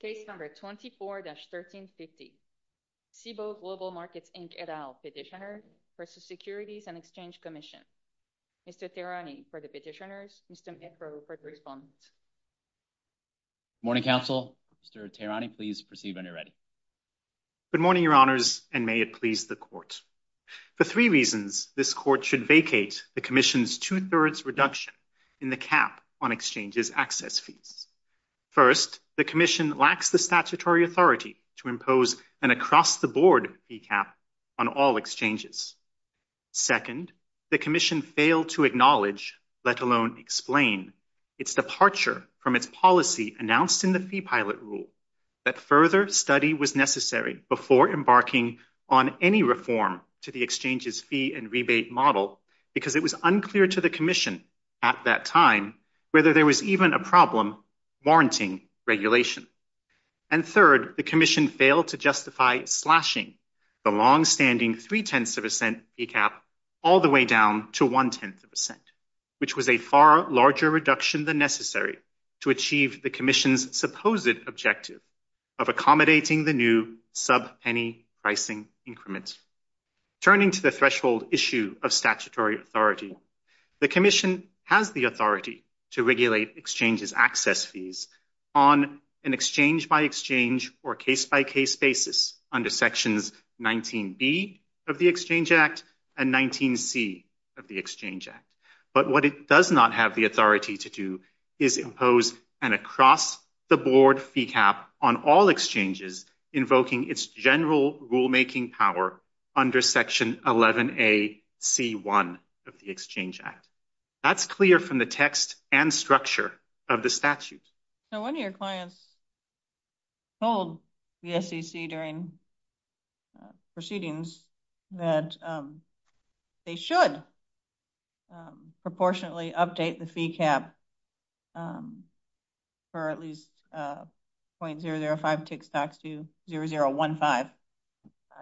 Case No. 24-1350, Cboe Global Markets, Inc. et al. Petitioner v. Securities and Exchange Commission. Mr. Tehrani for the petitioners, Mr. Mitro for the respondents. Good morning, Council. Mr. Tehrani, please proceed when you're ready. Good morning, Your Honors, and may it please the Court. For three reasons, this Court should vacate the Commission's two-thirds reduction in the cap on exchanges' access fees. First, the Commission lacks the statutory authority to impose an across-the-board fee cap on all exchanges. Second, the Commission failed to acknowledge, let alone explain, its departure from its policy announced in the Fee Pilot Rule that further study was necessary before embarking on any reform to the exchange's fee and rebate model because it was unclear to the Commission at that time whether there was even a problem warranting regulation. And third, the Commission failed to justify slashing the longstanding three-tenths of a cent fee cap all the way down to one-tenth of a cent, which was a far larger reduction than necessary to achieve the Commission's supposed objective of accommodating the new sub-penny pricing increment. Turning to the threshold issue of statutory authority, the Commission has the authority to regulate exchanges' access fees on an exchange-by-exchange or case-by-case basis under Sections 19b of the Exchange Act and 19c of the Exchange Act. But what it does not have the authority to do is impose an across-the-board fee cap on all exchanges, invoking its general rulemaking power under Section 11a.c.1 of the Exchange Act. That's clear from the text and structure of the statute. So one of your clients told the SEC during proceedings that they should proportionately update the fee cap for at least .005 tick stocks to .0015,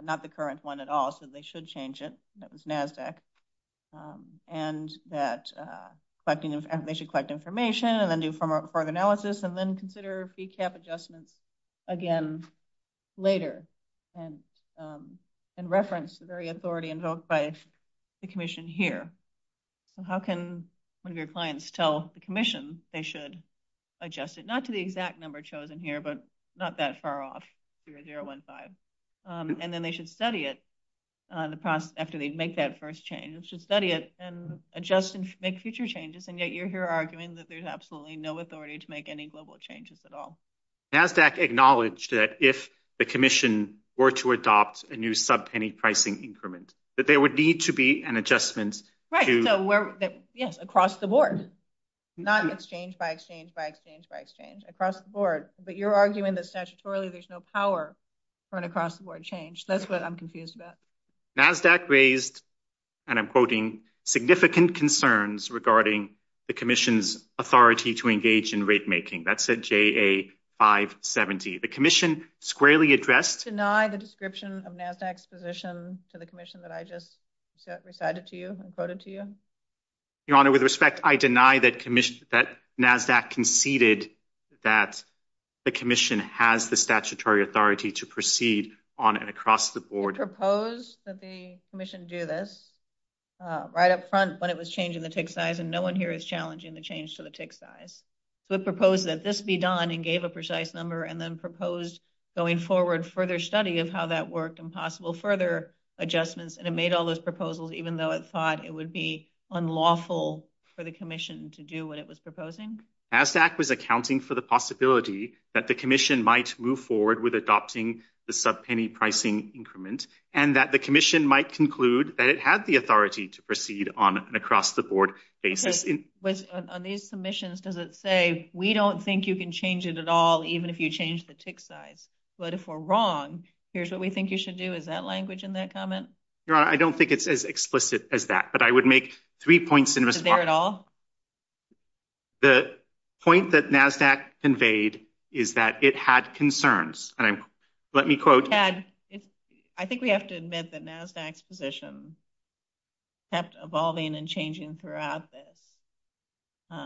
not the current one at all, so they should change it. That was NASDAQ. And that they should collect information and then do further analysis and then consider fee cap adjustments again later and reference the very authority invoked by the Commission here. So how can one of your clients tell the Commission they should adjust it, not to the exact number chosen here, but not that far off, .0015, and then they should study it after they make that first change. They should study it and adjust and make future changes, and yet you're here arguing that there's absolutely no authority to make any global changes at all. NASDAQ acknowledged that if the Commission were to adopt a new subpenny pricing increment, that there would need to be an adjustment to – Right, so yes, across the board, not exchange-by-exchange-by-exchange-by-exchange. Across the board. But you're arguing that statutorily there's no power for an across-the-board change. That's what I'm confused about. NASDAQ raised, and I'm quoting, significant concerns regarding the Commission's authority to engage in rate-making. That's at JA570. The Commission squarely addressed – Do you deny the description of NASDAQ's position to the Commission that I just recited to you and quoted to you? Your Honor, with respect, I deny that NASDAQ conceded that the Commission has the statutory authority to proceed on an across-the-board – We proposed that the Commission do this right up front when it was changing the tick size, and no one here is challenging the change to the tick size. We proposed that this be done and gave a precise number, and then proposed going forward further study of how that worked and possible further adjustments, and it made all those proposals even though it thought it would be unlawful for the Commission to do what it was proposing? NASDAQ was accounting for the possibility that the Commission might move forward with adopting the subpenny pricing increment and that the Commission might conclude that it had the authority to proceed on an across-the-board basis. On these submissions, does it say, we don't think you can change it at all even if you change the tick size, but if we're wrong, here's what we think you should do? Is that language in that comment? Your Honor, I don't think it's as explicit as that, but I would make three points in response. Is it there at all? The point that NASDAQ conveyed is that it had concerns, and let me quote – I think we have to admit that NASDAQ's position kept evolving and changing throughout this,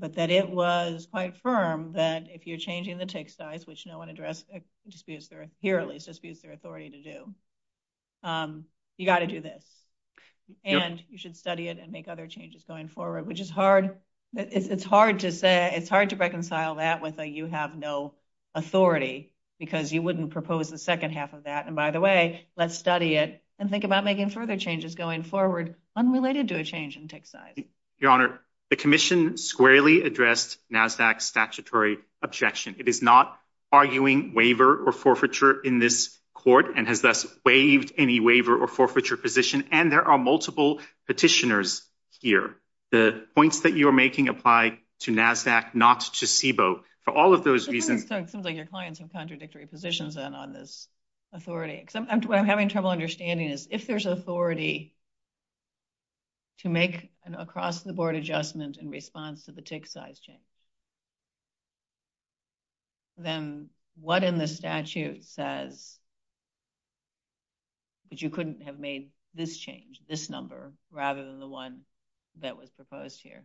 but that it was quite firm that if you're changing the tick size, which no one disputes their authority to do, you've got to do this. And you should study it and make other changes going forward, which it's hard to reconcile that with a you have no authority because you wouldn't propose the second half of that. And by the way, let's study it and think about making further changes going forward unrelated to a change in tick size. Your Honor, the Commission squarely addressed NASDAQ's statutory objection. It is not arguing waiver or forfeiture in this court and has thus waived any waiver or forfeiture position, and there are multiple petitioners here. The points that you are making apply to NASDAQ, not to CBO. For all of those reasons – It seems like your clients have contradictory positions on this authority. What I'm having trouble understanding is if there's authority to make an across-the-board adjustment in response to the tick size change, then what in the statute says that you couldn't have made this change, this number, rather than the one that was proposed here?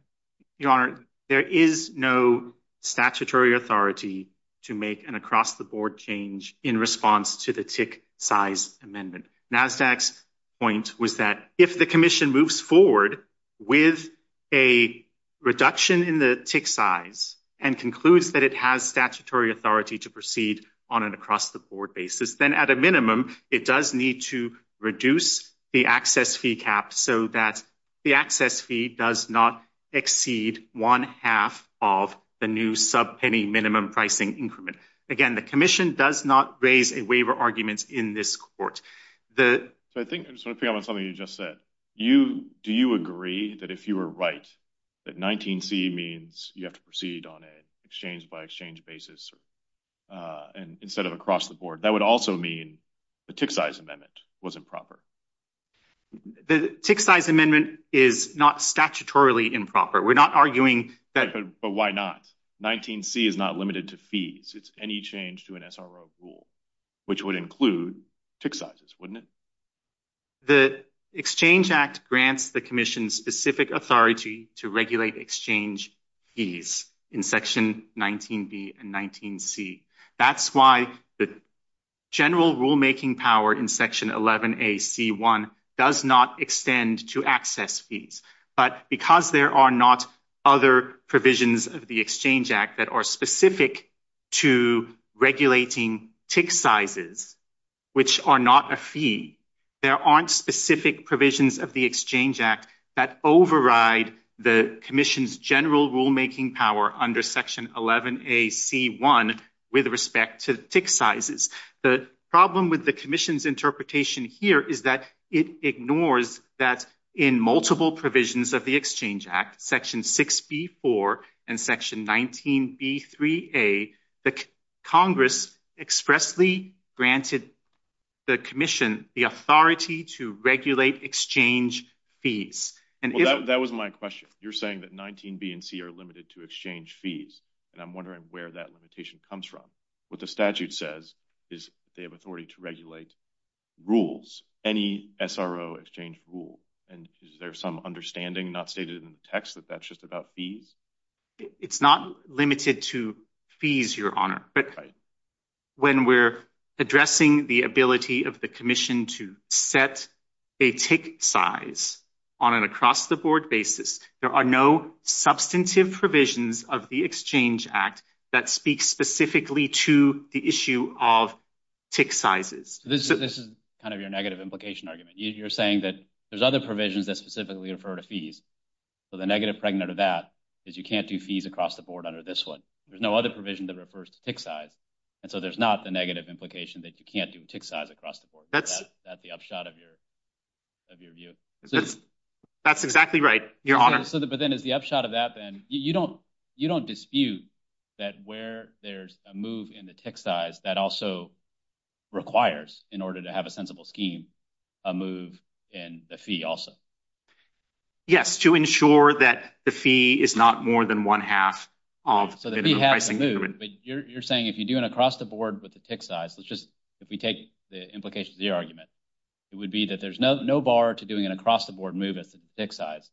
Your Honor, there is no statutory authority to make an across-the-board change in response to the tick size amendment. NASDAQ's point was that if the Commission moves forward with a reduction in the tick size and concludes that it has statutory authority to proceed on an across-the-board basis, then at a minimum, it does need to reduce the access fee cap so that the access fee does not exceed one-half of the new subpenny minimum pricing increment. Again, the Commission does not raise a waiver argument in this court. I just want to pick up on something you just said. Do you agree that if you were right that 19C means you have to proceed on an exchange-by-exchange basis instead of across-the-board? That would also mean the tick size amendment was improper. The tick size amendment is not statutorily improper. We're not arguing that – which would include tick sizes, wouldn't it? The Exchange Act grants the Commission specific authority to regulate exchange fees in Section 19B and 19C. That's why the general rulemaking power in Section 11A.C.1 does not extend to access fees. But because there are not other provisions of the Exchange Act that are specific to regulating tick sizes, which are not a fee, there aren't specific provisions of the Exchange Act that override the Commission's general rulemaking power under Section 11A.C.1 with respect to tick sizes. The problem with the Commission's interpretation here is that it ignores that in multiple provisions of the Exchange Act, Section 6B.4 and Section 19B.3.A, the Congress expressly granted the Commission the authority to regulate exchange fees. That was my question. You're saying that 19B and 19C are limited to exchange fees, and I'm wondering where that limitation comes from. What the statute says is they have authority to regulate rules, any SRO exchange rule. And is there some understanding not stated in the text that that's just about fees? It's not limited to fees, Your Honor. But when we're addressing the ability of the Commission to set a tick size on an across-the-board basis, there are no substantive provisions of the Exchange Act that speak specifically to the issue of tick sizes. This is kind of your negative implication argument. You're saying that there's other provisions that specifically refer to fees. So the negative pregnant of that is you can't do fees across the board under this one. There's no other provision that refers to tick size. And so there's not the negative implication that you can't do tick size across the board. Is that the upshot of your view? That's exactly right, Your Honor. But then is the upshot of that, then, you don't dispute that where there's a move in the tick size, that also requires, in order to have a sensible scheme, a move in the fee also? Yes, to ensure that the fee is not more than one-half of the minimum pricing agreement. So the fee has to move, but you're saying if you do an across-the-board with the tick size, let's just, if we take the implications of your argument, it would be that there's no bar to doing an across-the-board move as to tick size.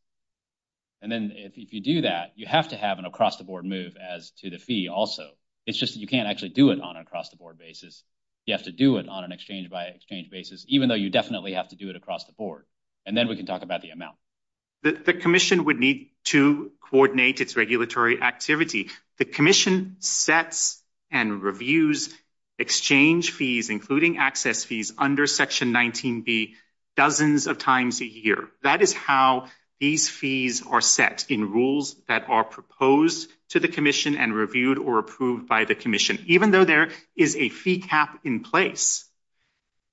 And then if you do that, you have to have an across-the-board move as to the fee also. It's just that you can't actually do it on an across-the-board basis. You have to do it on an exchange-by-exchange basis, even though you definitely have to do it across the board. And then we can talk about the amount. The Commission would need to coordinate its regulatory activity. The Commission sets and reviews exchange fees, including access fees, under Section 19B, dozens of times a year. That is how these fees are set in rules that are proposed to the Commission and reviewed or approved by the Commission. Even though there is a fee cap in place,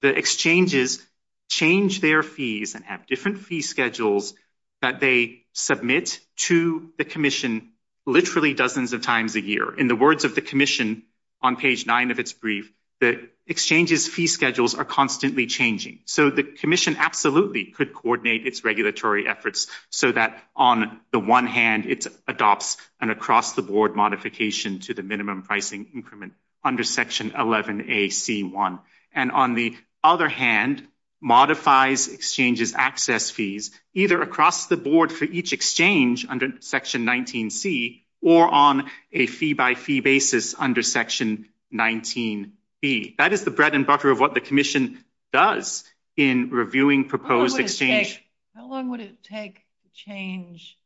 the exchanges change their fees and have different fee schedules that they submit to the Commission literally dozens of times a year. In the words of the Commission on page 9 of its brief, the exchange's fee schedules are constantly changing. So the Commission absolutely could coordinate its regulatory efforts so that on the one hand it adopts an across-the-board modification to the minimum pricing increment under Section 11AC1. And on the other hand, modifies exchanges' access fees, either across the board for each exchange under Section 19C or on a fee-by-fee basis under Section 19B. That is the bread and butter of what the Commission does in reviewing proposed exchange. How long would it take to change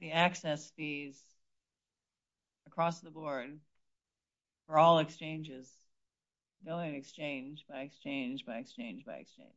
the access fees across the board for all exchanges, billing exchange by exchange by exchange by exchange?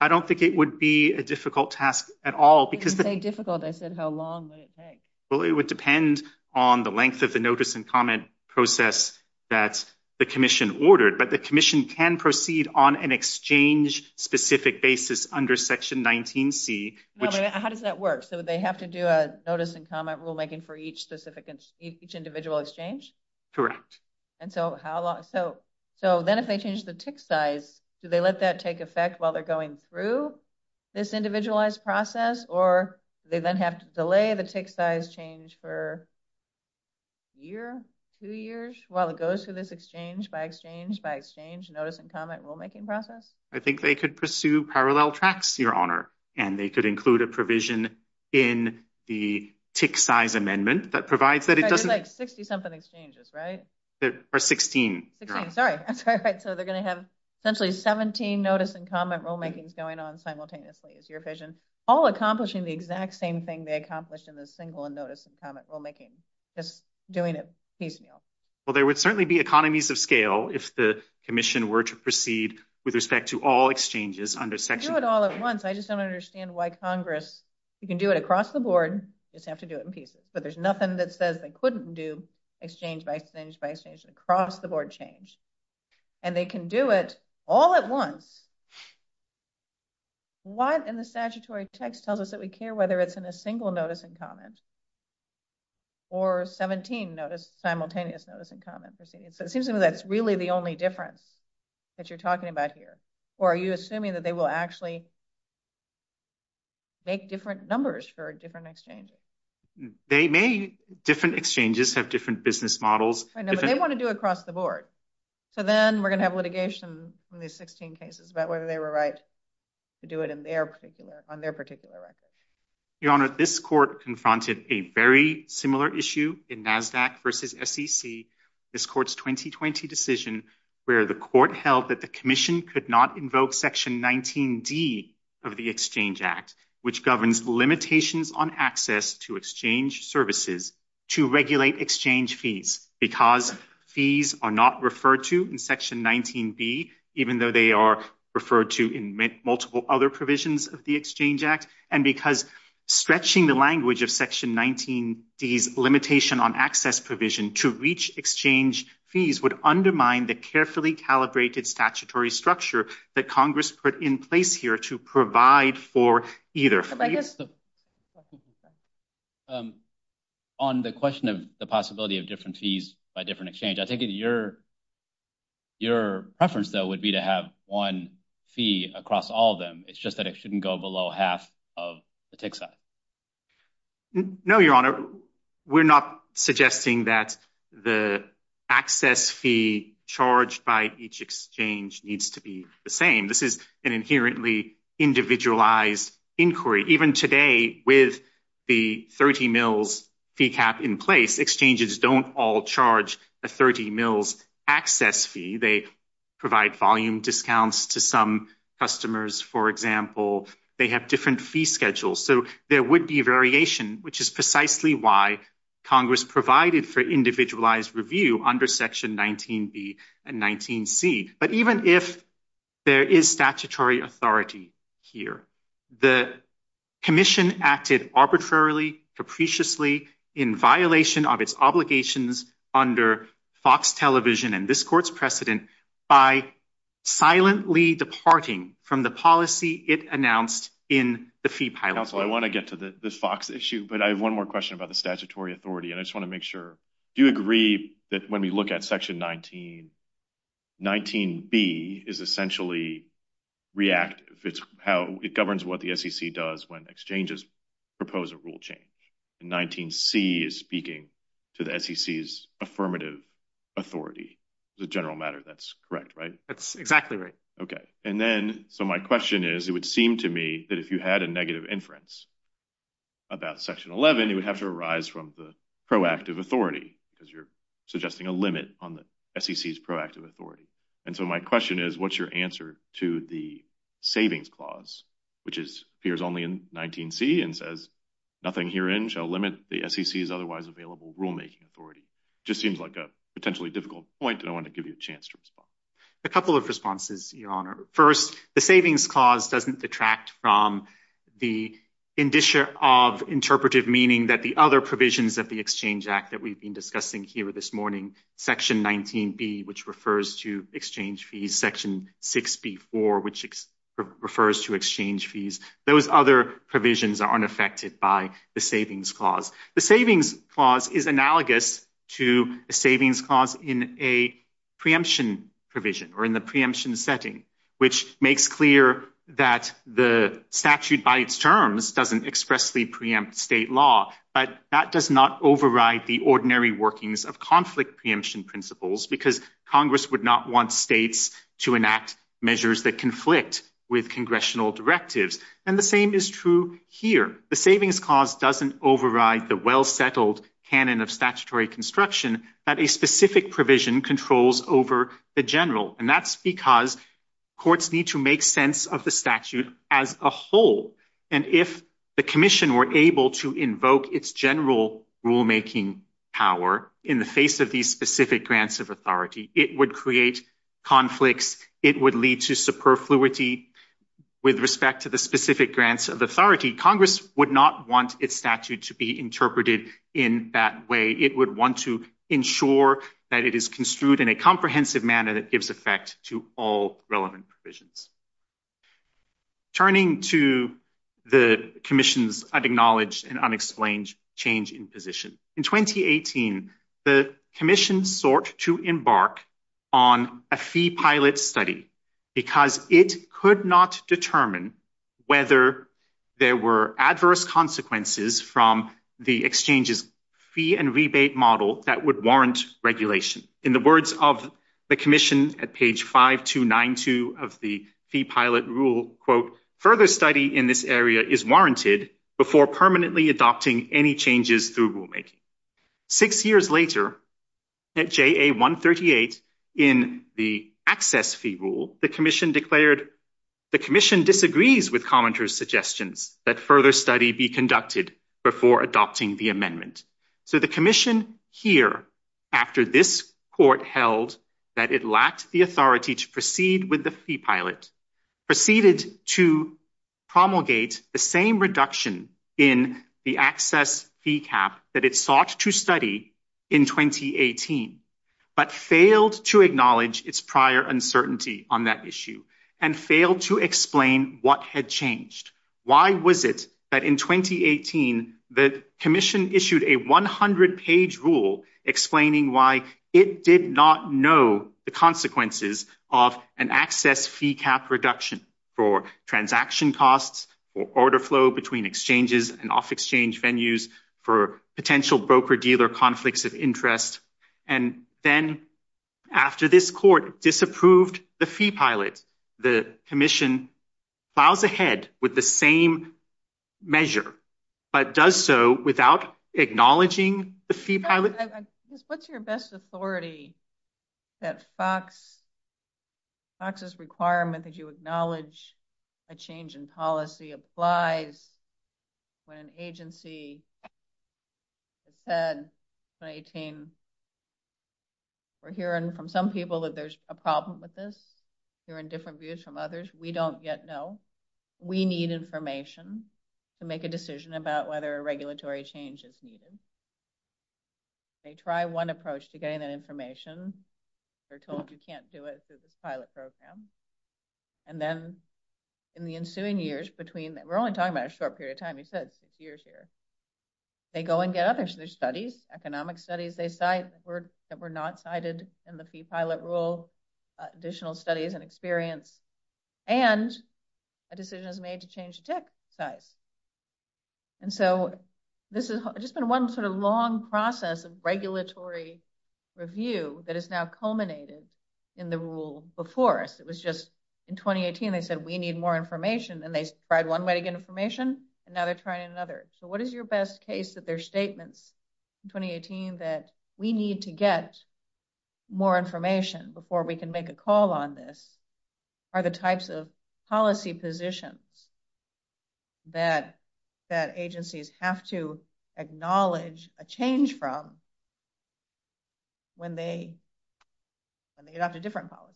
I don't think it would be a difficult task at all. When you say difficult, I said how long would it take? Well, it would depend on the length of the notice and comment process that the Commission ordered. But the Commission can proceed on an exchange-specific basis under Section 19C. How does that work? So they have to do a notice and comment rulemaking for each individual exchange? Correct. And so then if they change the tick size, do they let that take effect while they're going through this individualized process, or do they then have to delay the tick size change for a year, two years, while it goes through this exchange-by-exchange-by-exchange notice and comment rulemaking process? I think they could pursue parallel tracks, Your Honor, and they could include a provision in the tick size amendment that provides that it doesn't— There's like 60-something exchanges, right? Or 16. 16, sorry. So they're going to have essentially 17 notice and comment rulemakings going on simultaneously, is your vision, all accomplishing the exact same thing they accomplished in the single notice and comment rulemaking, just doing it piecemeal. Well, there would certainly be economies of scale if the commission were to proceed with respect to all exchanges under Section— They could do it all at once. I just don't understand why Congress— You can do it across the board. You just have to do it in pieces. But there's nothing that says they couldn't do exchange-by-exchange-by-exchange across-the-board change. And they can do it all at once. What in the statutory text tells us that we care whether it's in a single notice and comment or 17 simultaneous notice and comment proceedings? So it seems to me that's really the only difference that you're talking about here. Or are you assuming that they will actually make different numbers for different exchanges? They may—different exchanges have different business models. I know, but they want to do it across the board. So then we're going to have litigation in these 16 cases about whether they were right to do it on their particular record. Your Honor, this court confronted a very similar issue in NASDAQ v. SEC, this court's 2020 decision, where the court held that the commission could not invoke Section 19D of the Exchange Act, which governs limitations on access to exchange services to regulate exchange fees because fees are not referred to in Section 19B, even though they are referred to in multiple other provisions of the Exchange Act, and because stretching the language of Section 19D's limitation on access provision to reach exchange fees would undermine the carefully calibrated statutory structure that Congress put in place here to provide for either. On the question of the possibility of different fees by different exchange, I think your preference, though, would be to have one fee across all of them. It's just that it shouldn't go below half of the tick size. No, Your Honor, we're not suggesting that the access fee charged by each exchange needs to be the same. This is an inherently individualized inquiry. Even today, with the 30 mils fee cap in place, exchanges don't all charge a 30 mils access fee. They provide volume discounts to some customers, for example. They have different fee schedules. So there would be variation, which is precisely why Congress provided for individualized review under Section 19B and 19C. But even if there is statutory authority here, the Commission acted arbitrarily, capriciously, in violation of its obligations under Fox Television and this Court's precedent by silently departing from the policy it announced in the fee pilot. Counsel, I want to get to the Fox issue, but I have one more question about the statutory authority, and I just want to make sure, do you agree that when we look at Section 19, 19B is essentially reactive. It governs what the SEC does when exchanges propose a rule change, and 19C is speaking to the SEC's affirmative authority. As a general matter, that's correct, right? That's exactly right. Okay. And then, so my question is, it would seem to me that if you had a negative inference about Section 11, you would have to arise from the proactive authority, because you're suggesting a limit on the SEC's proactive authority. And so my question is, what's your answer to the savings clause, which appears only in 19C and says, nothing herein shall limit the SEC's otherwise available rulemaking authority? It just seems like a potentially difficult point, and I want to give you a chance to respond. A couple of responses, Your Honor. First, the savings clause doesn't detract from the indicia of interpretive meaning that the other provisions of the Exchange Act that we've been discussing here this morning, Section 19B, which refers to exchange fees, Section 6B4, which refers to exchange fees, those other provisions aren't affected by the savings clause. The savings clause is analogous to a savings clause in a preemption provision or in the preemption setting, which makes clear that the statute by its terms doesn't expressly preempt state law, but that does not override the ordinary workings of conflict preemption principles, because Congress would not want states to enact measures that conflict with congressional directives. And the same is true here. The savings clause doesn't override the well-settled canon of statutory construction that a specific provision controls over the general, and that's because courts need to make sense of the statute as a whole. And if the Commission were able to invoke its general rulemaking power in the face of these specific grants of authority, it would create conflicts, it would lead to superfluity with respect to the specific grants of authority. Congress would not want its statute to be interpreted in that way. It would want to ensure that it is construed in a comprehensive manner that gives effect to all relevant provisions. Turning to the Commission's unacknowledged and unexplained change in position, in 2018, the Commission sought to embark on a fee pilot study because it could not determine whether there were adverse consequences from the exchange's fee and rebate model that would warrant regulation. In the words of the Commission at page 5292 of the fee pilot rule, quote, further study in this area is warranted before permanently adopting any changes through rulemaking. Six years later, at JA 138 in the access fee rule, the Commission declared the Commission disagrees with commenters' suggestions that further study be conducted before adopting the amendment. So the Commission here, after this court held that it lacked the authority to proceed with the fee pilot, proceeded to promulgate the same reduction in the access fee cap that it sought to study in 2018, but failed to acknowledge its prior uncertainty on that issue and failed to explain what had changed. Why was it that in 2018, the Commission issued a 100-page rule explaining why it did not know the consequences of an access fee cap reduction for transaction costs, for order flow between exchanges and off-exchange venues, for potential broker-dealer conflicts of interest? And then after this court disapproved the fee pilot, the Commission plows ahead with the same measure, but does so without acknowledging the fee pilot? What's your best authority that FOX's requirement that you acknowledge a change in policy applies when an agency has said in 2018, we're hearing from some people that there's a problem with this, hearing different views from others, we don't yet know. We need information to make a decision about whether a regulatory change is needed. They try one approach to getting that information. They're told you can't do it through this pilot program. And then in the ensuing years between, we're only talking about a short period of time, you said six years here, they go and get other studies, economic studies that were not cited in the fee pilot rule, additional studies and experience, and a decision is made to change the tick size. And so this has just been one sort of long process of regulatory review that has now culminated in the rule before us. It was just in 2018, they said, we need more information. And they tried one way to get information, and now they're trying another. So what is your best case that their statements in 2018 that we need to get more information before we can make a call on this, are the types of policy positions that agencies have to acknowledge a change from when they adopt a different policy?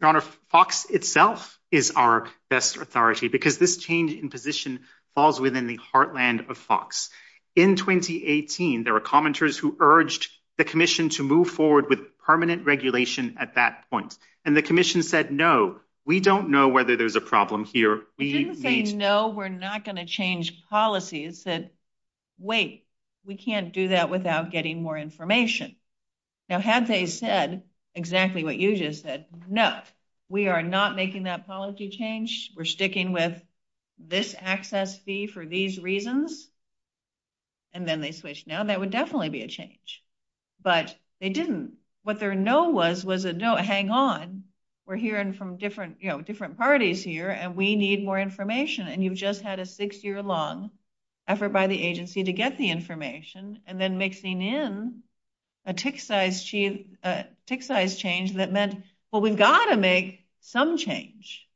Your Honor, FOX itself is our best authority, because this change in position falls within the heartland of FOX. In 2018, there were commenters who urged the commission to move forward with permanent regulation at that point. And the commission said, no, we don't know whether there's a problem here. They didn't say no, we're not going to change policies. They said, wait, we can't do that without getting more information. Now, had they said exactly what you just said, no, we are not making that policy change. We're sticking with this access fee for these reasons. And then they switched. Now, that would definitely be a change. But they didn't. What their no was was a no, hang on. We're hearing from different parties here, and we need more information. And you've just had a six-year-long effort by the agency to get the information, and then mixing in a tick-sized change that meant, well, we've got to make some change.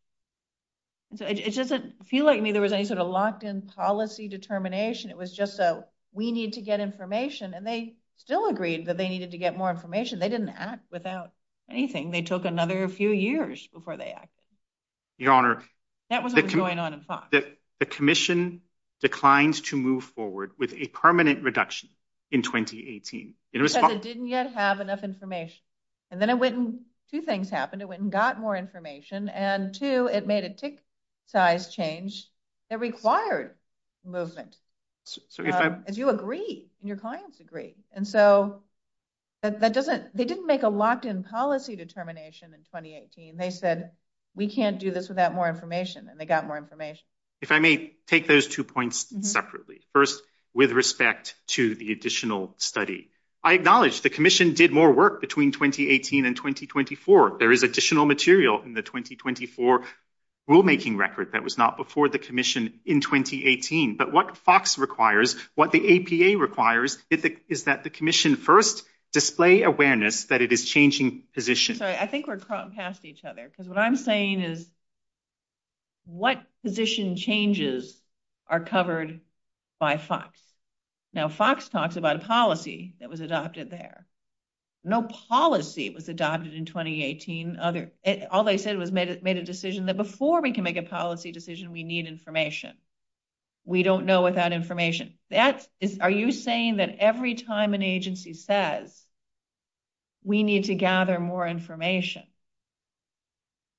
It doesn't feel like there was any sort of locked-in policy determination. It was just a we need to get information. And they still agreed that they needed to get more information. They didn't act without anything. They took another few years before they acted. Your Honor. That was what was going on in Fox. The commission declined to move forward with a permanent reduction in 2018. Because it didn't yet have enough information. And then it went and two things happened. It went and got more information. And, two, it made a tick-sized change that required movement. As you agree, and your clients agree. And so they didn't make a locked-in policy determination in 2018. They said, we can't do this without more information. And they got more information. If I may take those two points separately. First, with respect to the additional study. I acknowledge the commission did more work between 2018 and 2024. There is additional material in the 2024 rulemaking record that was not before the commission in 2018. But what Fox requires, what the APA requires, is that the commission first display awareness that it is changing position. I'm sorry, I think we're crawling past each other. Because what I'm saying is, what position changes are covered by Fox? Now, Fox talks about a policy that was adopted there. No policy was adopted in 2018. All they said was made a decision that before we can make a policy decision, we need information. We don't know without information. Are you saying that every time an agency says, we need to gather more information.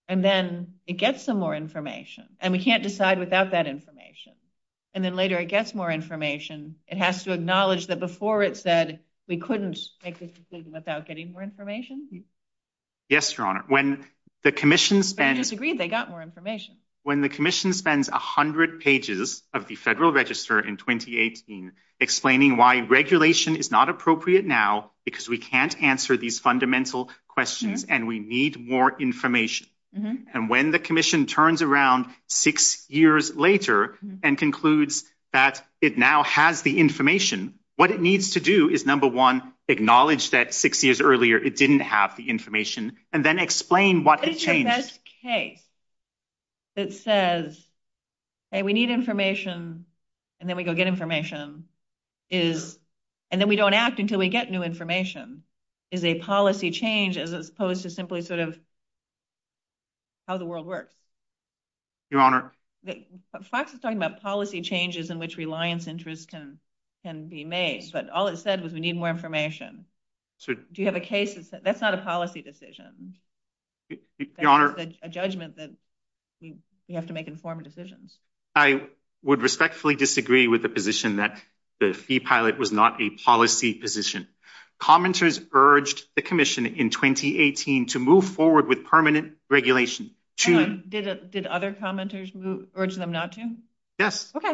And then it gets some more information. And we can't decide without that information. And then later it gets more information. It has to acknowledge that before it said, we couldn't make this decision without getting more information. Yes, Your Honor. When the commission spends. But they just agreed they got more information. When the commission spends 100 pages of the Federal Register in 2018 explaining why regulation is not appropriate now. Because we can't answer these fundamental questions. And we need more information. And when the commission turns around six years later and concludes that it now has the information. What it needs to do is, number one, acknowledge that six years earlier it didn't have the information. And then explain what it changed. This case that says, hey, we need information. And then we go get information. And then we don't act until we get new information. Is a policy change as opposed to simply sort of how the world works? Your Honor. Fox is talking about policy changes in which reliance interest can be made. But all it said was we need more information. Do you have a case that says that's not a policy decision? Your Honor. A judgment that we have to make informed decisions. I would respectfully disagree with the position that the fee pilot was not a policy position. Commenters urged the commission in 2018 to move forward with permanent regulation. Did other commenters urge them not to? Yes. Okay.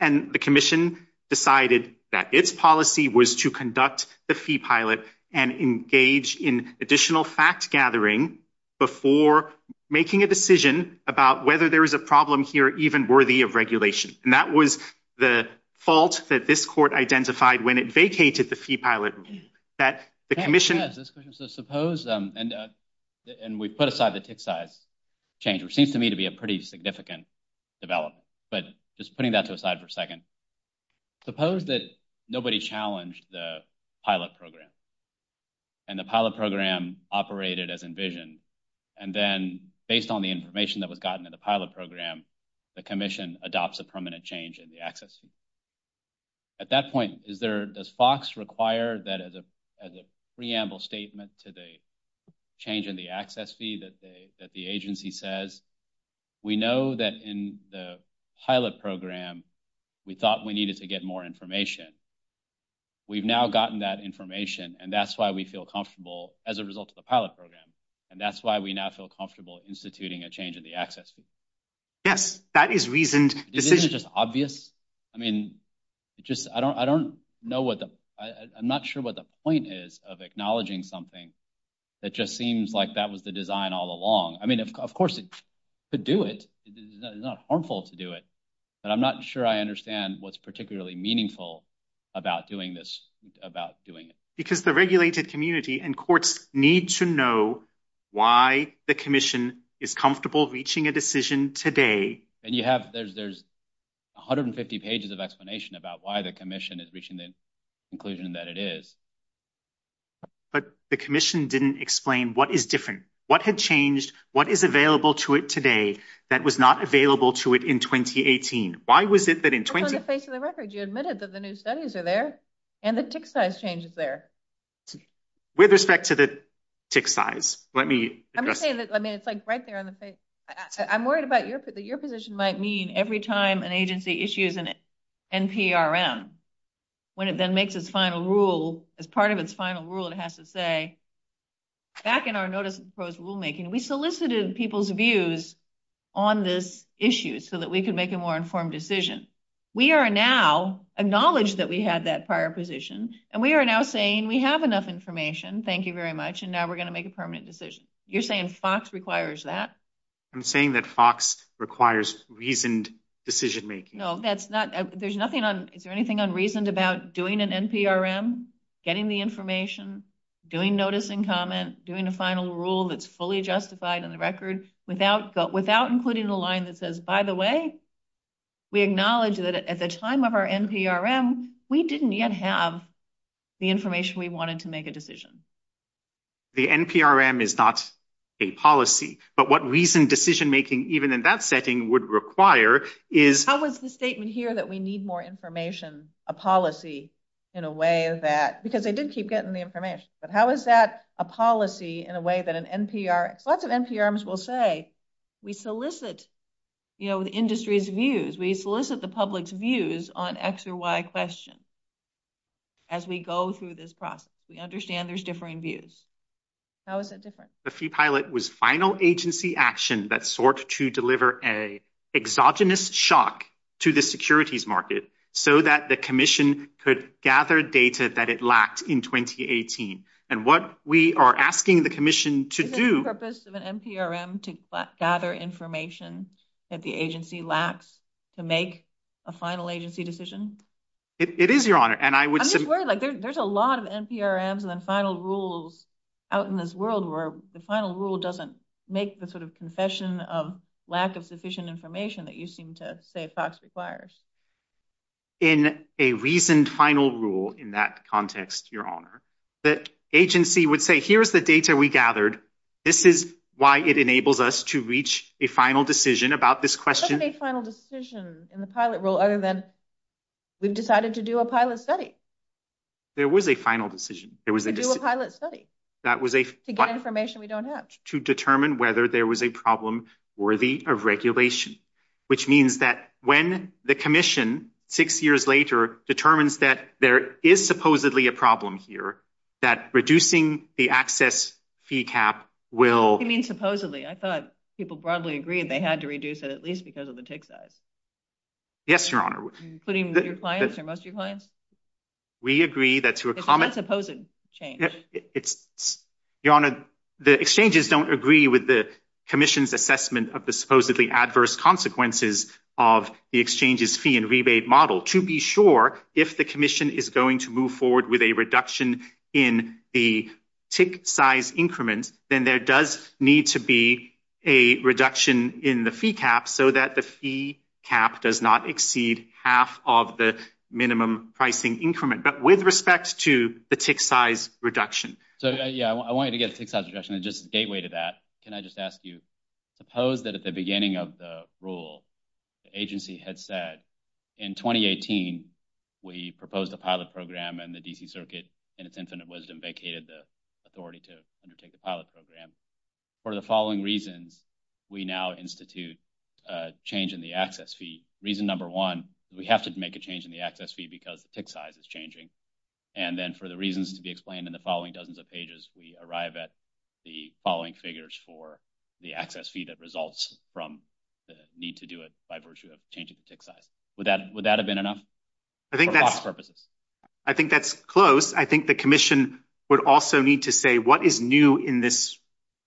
And the commission decided that its policy was to conduct the fee pilot and engage in additional fact gathering before making a decision about whether there is a problem here even worthy of regulation. And that was the fault that this court identified when it vacated the fee pilot. That the commission. So suppose and we put aside the tick size change, which seems to me to be a pretty significant development. But just putting that to the side for a second. Suppose that nobody challenged the pilot program. And the pilot program operated as envisioned. And then based on the information that was gotten in the pilot program, the commission adopts a permanent change in the access. At that point, is there, does Fox require that as a preamble statement to the change in the access fee that the agency says? We know that in the pilot program. We thought we needed to get more information. We've now gotten that information and that's why we feel comfortable as a result of the pilot program. And that's why we now feel comfortable instituting a change in the access. Yes, that is reason decision just obvious. I mean, just, I don't, I don't know what the, I'm not sure what the point is of acknowledging something. That just seems like that was the design all along. I mean, of course it could do it. It's not harmful to do it. But I'm not sure I understand what's particularly meaningful about doing this, about doing it. Because the regulated community and courts need to know why the commission is comfortable reaching a decision today. And you have, there's 150 pages of explanation about why the commission is reaching the conclusion that it is. But the commission didn't explain what is different. What had changed? What is available to it today that was not available to it in 2018? Why was it that in 20? On the face of the record, you admitted that the new studies are there and the tick size changes there. With respect to the tick size. Let me. I mean, it's like right there on the face. Your position might mean every time an agency issues and NPRM. When it then makes its final rule as part of its final rule, it has to say. Back in our notice of proposed rulemaking, we solicited people's views on this issue so that we could make a more informed decision. We are now acknowledged that we had that prior position, and we are now saying we have enough information. Thank you very much. And now we're going to make a permanent decision. You're saying Fox requires that. I'm saying that Fox requires reasoned decision making. No, that's not. There's nothing on. Is there anything unreasoned about doing an NPRM, getting the information, doing notice and comment, doing a final rule that's fully justified in the record without without including the line that says, by the way. We acknowledge that at the time of our NPRM, we didn't yet have the information we wanted to make a decision. The NPRM is not a policy, but what reason decision making even in that setting would require is how was the statement here that we need more information, a policy in a way that because they did keep getting the information. But how is that a policy in a way that an NPR lots of NPRMs will say we solicit, you know, the industry's views. We solicit the public's views on X or Y question. As we go through this process, we understand there's differing views. How is it different? The pilot was final agency action that sort to deliver a exogenous shock to the securities market so that the commission could gather data that it lacked in twenty eighteen. And what we are asking the commission to do purpose of an NPRM to gather information that the agency lacks to make a final agency decision. It is your honor. And I was worried like there's a lot of NPRMs and then final rules out in this world where the final rule doesn't make the sort of confession of lack of sufficient information that you seem to say Fox requires. In a reasoned final rule in that context, your honor, the agency would say, here's the data we gathered. This is why it enables us to reach a final decision about this question. There wasn't a final decision in the pilot rule other than we've decided to do a pilot study. There was a final decision. There was a pilot study that was a to get information we don't have to determine whether there was a problem worthy of regulation, which means that when the commission six years later determines that there is supposedly a problem here, that reducing the access fee cap will. I mean, supposedly, I thought people broadly agreed they had to reduce it, at least because of the tick size. Yes, your honor. Putting your clients or most of your clients. We agree that to a common supposed change, it's your honor. The exchanges don't agree with the commission's assessment of the supposedly adverse consequences of the exchanges fee and rebate model to be sure if the commission is going to move forward with a reduction in the tick size increments, then there does need to be a reduction in the fee cap so that the fee cap does not exceed half of the minimum pricing increment. But with respect to the tick size reduction. So, yeah, I want you to get a tick size reduction and just gateway to that. Can I just ask you suppose that at the beginning of the rule agency had said in twenty eighteen, we proposed a pilot program and the D.C. Circuit in its infinite wisdom vacated the authority to undertake the pilot program for the following reasons. We now institute a change in the access fee. Reason number one, we have to make a change in the access fee because the tick size is changing. And then for the reasons to be explained in the following dozens of pages, we arrive at the following figures for the access fee that results from the need to do it by virtue of changing the tick size. Would that would that have been enough? I think that's purposes. I think that's close. I think the commission would also need to say what is new in this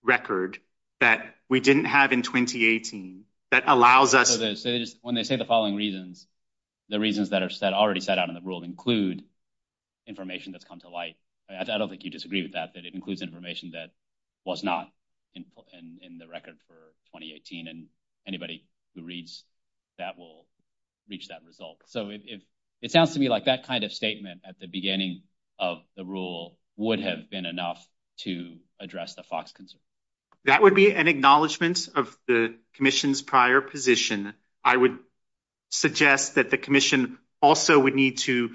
record that we didn't have in twenty eighteen. So when they say the following reasons, the reasons that are said already set out in the rule include information that's come to light. I don't think you disagree with that, that it includes information that was not in the record for twenty eighteen. And anybody who reads that will reach that result. So it sounds to me like that kind of statement at the beginning of the rule would have been enough to address the Fox concern. That would be an acknowledgement of the commission's prior position. I would suggest that the commission also would need to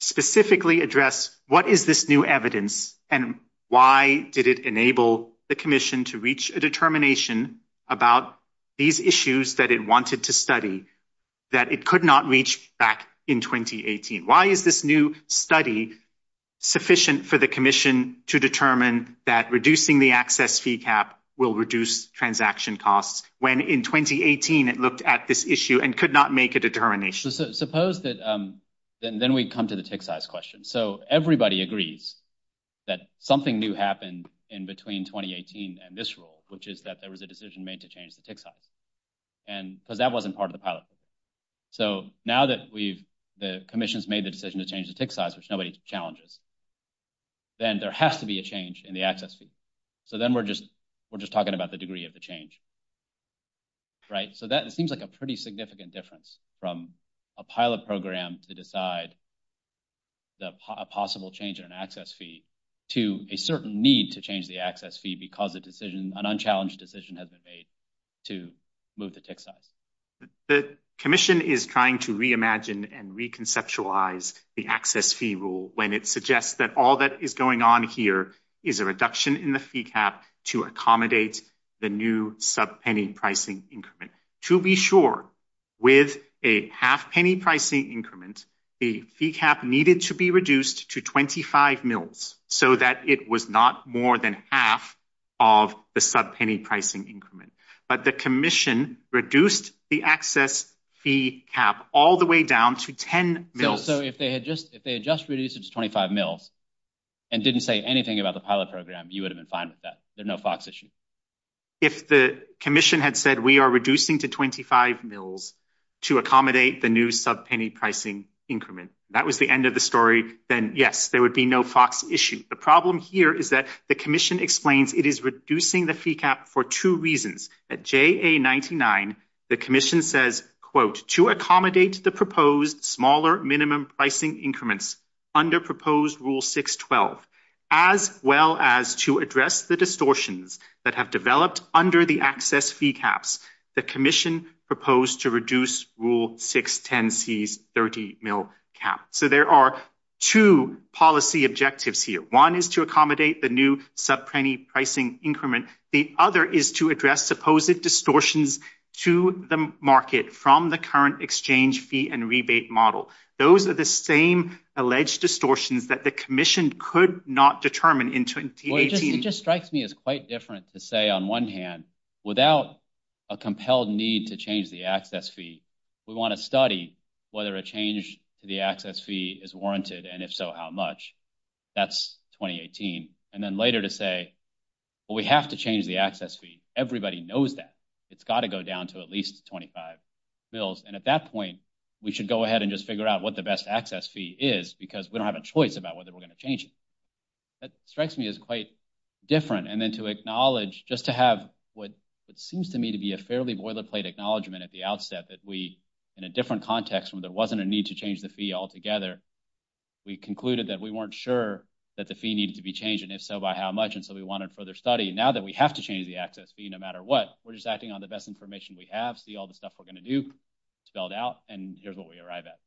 specifically address what is this new evidence and why did it enable the commission to reach a determination about these issues that it wanted to study that it could not reach back in twenty eighteen? Why is this new study sufficient for the commission to determine that reducing the access fee cap will reduce transaction costs when in twenty eighteen it looked at this issue and could not make a determination? So suppose that then we come to the tick size question. So everybody agrees that something new happened in between twenty eighteen and this rule, which is that there was a decision made to change the tick size. And because that wasn't part of the pilot. So now that we've the commission's made the decision to change the tick size, which nobody challenges. Then there has to be a change in the access fee. So then we're just we're just talking about the degree of the change. Right. So that seems like a pretty significant difference from a pilot program to decide. The possible change in an access fee to a certain need to change the access fee because a decision, an unchallenged decision has been made to move the tick size. The commission is trying to reimagine and reconceptualize the access fee rule when it suggests that all that is going on here is a reduction in the fee cap to accommodate the new sub penny pricing increment. To be sure, with a half penny pricing increment, the fee cap needed to be reduced to twenty five mils so that it was not more than half of the sub penny pricing increment. But the commission reduced the access fee cap all the way down to ten mils. So if they had just if they had just reduced it to twenty five mils and didn't say anything about the pilot program, you would have been fine with that. If the commission had said we are reducing to twenty five mils to accommodate the new sub penny pricing increment, that was the end of the story. Then, yes, there would be no Fox issue. The problem here is that the commission explains it is reducing the fee cap for two reasons. At J.A. ninety nine, the commission says, quote, to accommodate the proposed smaller minimum pricing increments under proposed rule six, twelve, as well as to address the distortions that have developed under the access fee caps. The commission proposed to reduce rule six ten C's thirty mil cap. So there are two policy objectives here. One is to accommodate the new sub penny pricing increment. The other is to address supposed distortions to the market from the current exchange fee and rebate model. Those are the same alleged distortions that the commission could not determine in 2018. It just strikes me as quite different to say on one hand, without a compelled need to change the access fee, we want to study whether a change to the access fee is warranted. And if so, how much? That's twenty eighteen. And then later to say, well, we have to change the access fee. Everybody knows that it's got to go down to at least twenty five bills. And at that point, we should go ahead and just figure out what the best access fee is, because we don't have a choice about whether we're going to change it. That strikes me as quite different. And then to acknowledge just to have what seems to me to be a fairly boilerplate acknowledgement at the outset that we in a different context where there wasn't a need to change the fee altogether, we concluded that we weren't sure that the fee needed to be changed. And if so, by how much? And so we wanted further study. Now that we have to change the access fee, no matter what, we're just acting on the best information we have, see all the stuff we're going to do spelled out. And here's what we arrive at.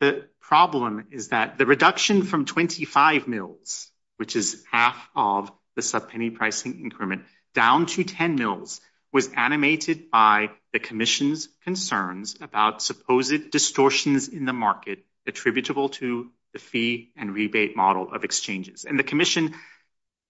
The problem is that the reduction from twenty five mills, which is half of the subpenny pricing increment down to ten mills, was animated by the commission's concerns about supposed distortions in the market attributable to the fee and rebate model of exchanges. And the commission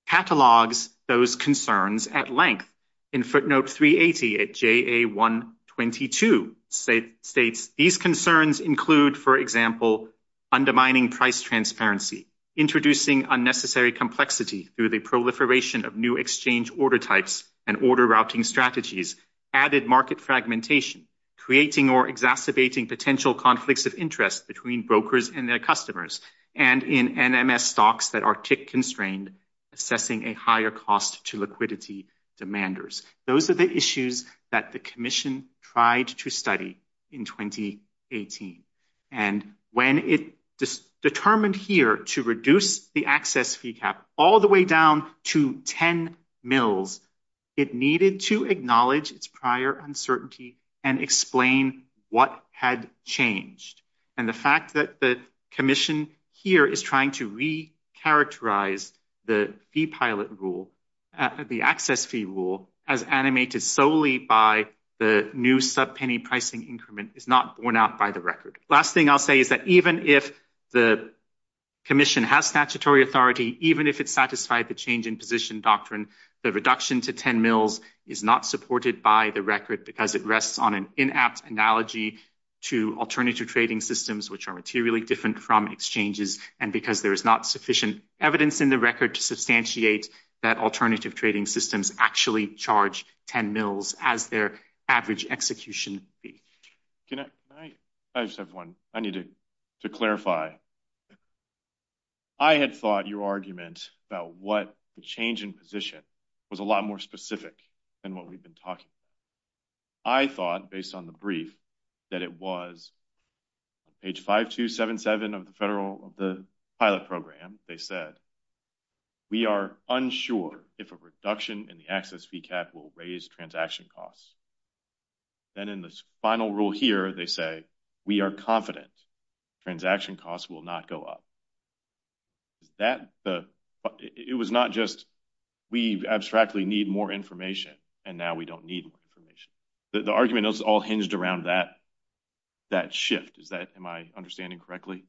catalogs those concerns at length. In footnote 380 at JA122 states, these concerns include, for example, undermining price transparency, introducing unnecessary complexity through the proliferation of new exchange order types and order routing strategies, added market fragmentation, creating or exacerbating potential conflicts of interest between brokers and their customers, and in NMS stocks that are tick constrained, assessing a higher cost to liquidity demanders. Those are the issues that the commission tried to study in 2018. And when it determined here to reduce the access fee cap all the way down to ten mills, it needed to acknowledge its prior uncertainty and explain what had changed. And the fact that the commission here is trying to recharacterize the fee pilot rule, the access fee rule as animated solely by the new subpenny pricing increment is not borne out by the record. Last thing I'll say is that even if the commission has statutory authority, even if it's satisfied the change in position doctrine, the reduction to ten mills is not supported by the record because it rests on an inapt analogy to alternative trading systems, which are materially different from exchanges, and because there is not sufficient evidence in the record to substantiate that alternative trading systems actually charge ten mills as their average execution fee. I just have one. I need to clarify. I had thought your argument about what the change in position was a lot more specific than what we've been talking about. I thought, based on the brief, that it was page 5277 of the pilot program. They said, we are unsure if a reduction in the access fee cap will raise transaction costs. Then in the final rule here, they say, we are confident transaction costs will not go up. It was not just, we abstractly need more information, and now we don't need more information. The argument is all hinged around that shift. Am I understanding correctly?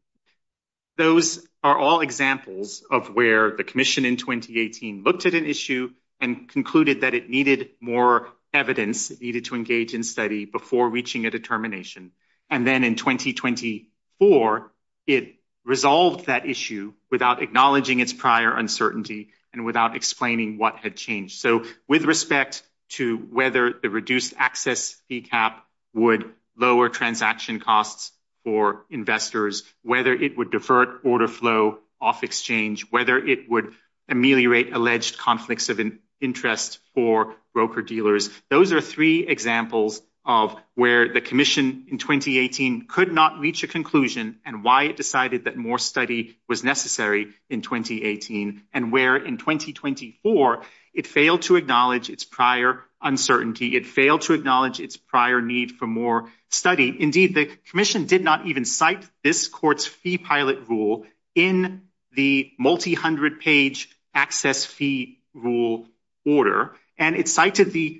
Those are all examples of where the commission in 2018 looked at an issue and concluded that it needed more evidence, needed to engage in study before reaching a determination. Then in 2024, it resolved that issue without acknowledging its prior uncertainty and without explaining what had changed. With respect to whether the reduced access fee cap would lower transaction costs for investors, whether it would divert order flow off exchange, whether it would ameliorate alleged conflicts of interest for broker-dealers, those are three examples of where the commission in 2018 could not reach a conclusion and why it decided that more study was necessary in 2018. And where in 2024, it failed to acknowledge its prior uncertainty. It failed to acknowledge its prior need for more study. Indeed, the commission did not even cite this court's fee pilot rule in the multi-hundred-page access fee rule order. And it cited the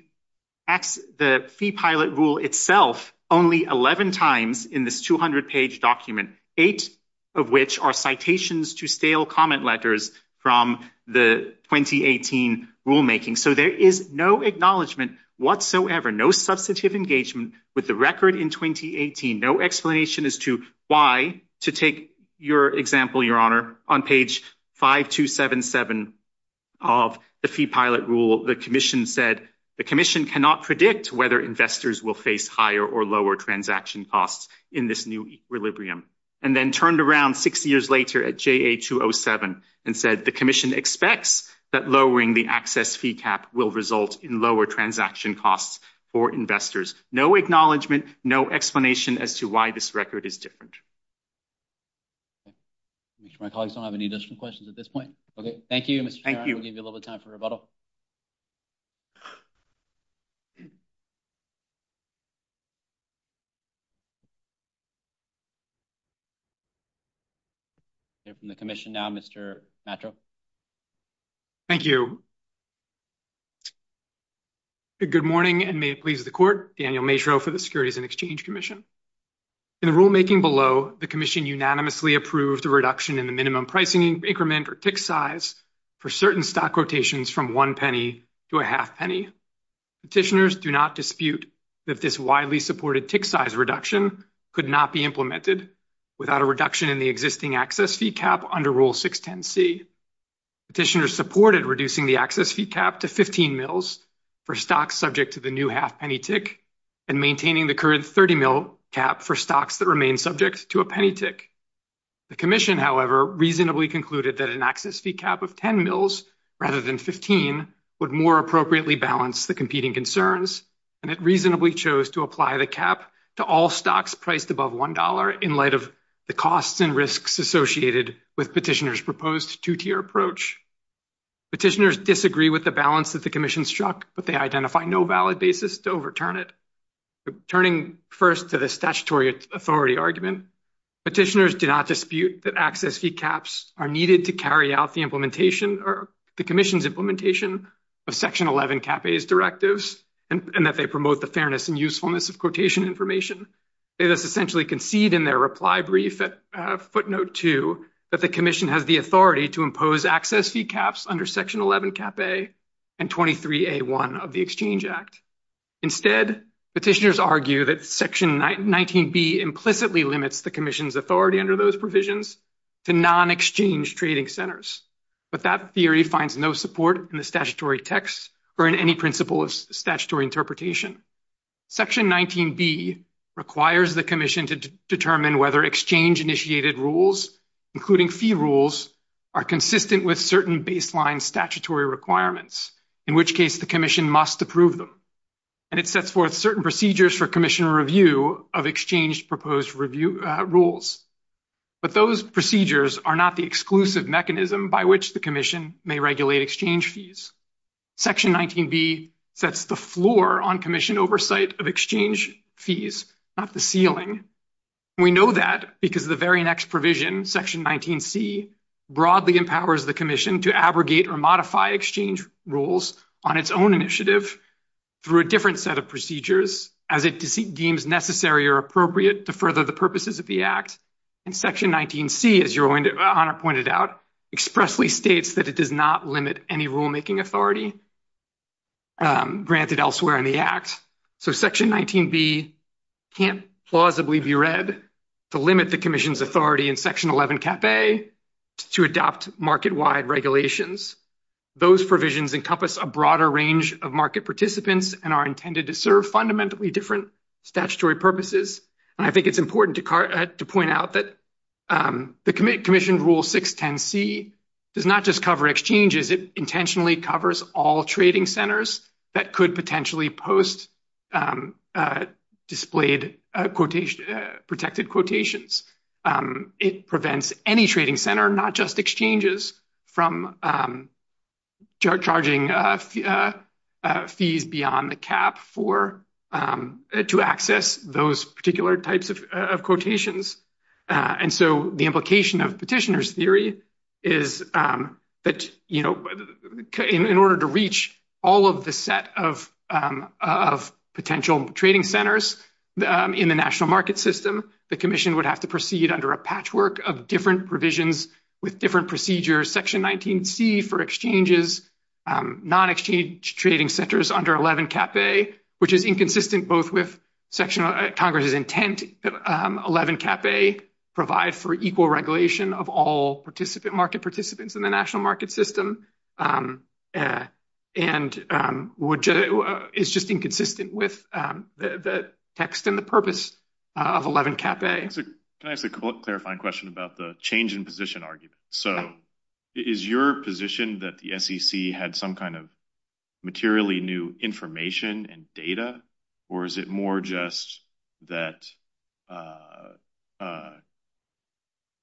fee pilot rule itself only 11 times in this 200-page document, eight of which are citations to stale comment letters from the 2018 rulemaking. So there is no acknowledgment whatsoever, no substantive engagement with the record in 2018, no explanation as to why, to take your example, Your Honor, on page 5277 of the fee pilot rule, the commission said the commission cannot predict whether investors will face higher or lower transaction costs in this new equilibrium. And then turned around six years later at JA207 and said the commission expects that lowering the access fee cap will result in lower transaction costs for investors. No acknowledgment, no explanation as to why this record is different. My colleagues don't have any additional questions at this point. Okay. Thank you, Mr. Chairman. I'll give you a little time for rebuttal. From the commission now, Mr. Matro. Thank you. Good morning and may it please the court. Daniel Matro for the Securities and Exchange Commission. In the rulemaking below, the commission unanimously approved a reduction in the minimum pricing increment or TIC size for certain stock quotations from one penny to a half penny. Petitioners do not dispute that this widely supported TIC size reduction could not be implemented without a reduction in the existing access fee cap under Rule 610C. Petitioners supported reducing the access fee cap to 15 mils for stocks subject to the new half penny TIC and maintaining the current 30 mil cap for stocks that remain subject to a penny TIC. The commission, however, reasonably concluded that an access fee cap of 10 mils rather than 15 would more appropriately balance the competing concerns, and it reasonably chose to apply the cap to all stocks priced above $1 in light of the costs and risks associated with petitioners' proposed two-tier approach. Petitioners disagree with the balance that the commission struck, but they identify no valid basis to overturn it. Turning first to the statutory authority argument, petitioners do not dispute that access fee caps are needed to carry out the implementation or the commission's implementation of Section 11 Cap A's directives and that they promote the fairness and usefulness of quotation information. They thus essentially concede in their reply brief at footnote 2 that the commission has the authority to impose access fee caps under Section 11 Cap A and 23A1 of the Exchange Act. Instead, petitioners argue that Section 19B implicitly limits the commission's authority under those provisions to non-exchange trading centers, but that theory finds no support in the statutory text or in any principle of statutory interpretation. Section 19B requires the commission to determine whether exchange-initiated rules, including fee rules, are consistent with certain baseline statutory requirements, in which case the commission must approve them. And it sets forth certain procedures for commission review of exchange-proposed rules. But those procedures are not the exclusive mechanism by which the commission may regulate exchange fees. Section 19B sets the floor on commission oversight of exchange fees, not the ceiling. We know that because the very next provision, Section 19C, broadly empowers the commission to abrogate or modify exchange rules on its own initiative through a different set of procedures as it deems necessary or appropriate to further the purposes of the Act. And Section 19C, as Your Honor pointed out, expressly states that it does not limit any rulemaking authority granted elsewhere in the Act. So Section 19B can't plausibly be read to limit the commission's authority in Section 11 Cap A to adopt market-wide regulations. Those provisions encompass a broader range of market participants and are intended to serve fundamentally different statutory purposes. And I think it's important to point out that the commissioned Rule 610C does not just cover exchanges. It intentionally covers all trading centers that could potentially post displayed protected quotations. It prevents any trading center, not just exchanges, from charging fees beyond the cap to access those particular types of quotations. And so the implication of petitioner's theory is that, you know, in order to reach all of the set of potential trading centers in the national market system, the commission would have to proceed under a patchwork of different revisions with different procedures. Section 19C for exchanges, non-exchange trading centers under 11 Cap A, which is inconsistent both with Congress's intent. 11 Cap A provide for equal regulation of all market participants in the national market system. And it's just inconsistent with the text and the purpose of 11 Cap A. Can I ask a clarifying question about the change in position argument? So is your position that the SEC had some kind of materially new information and data, or is it more just that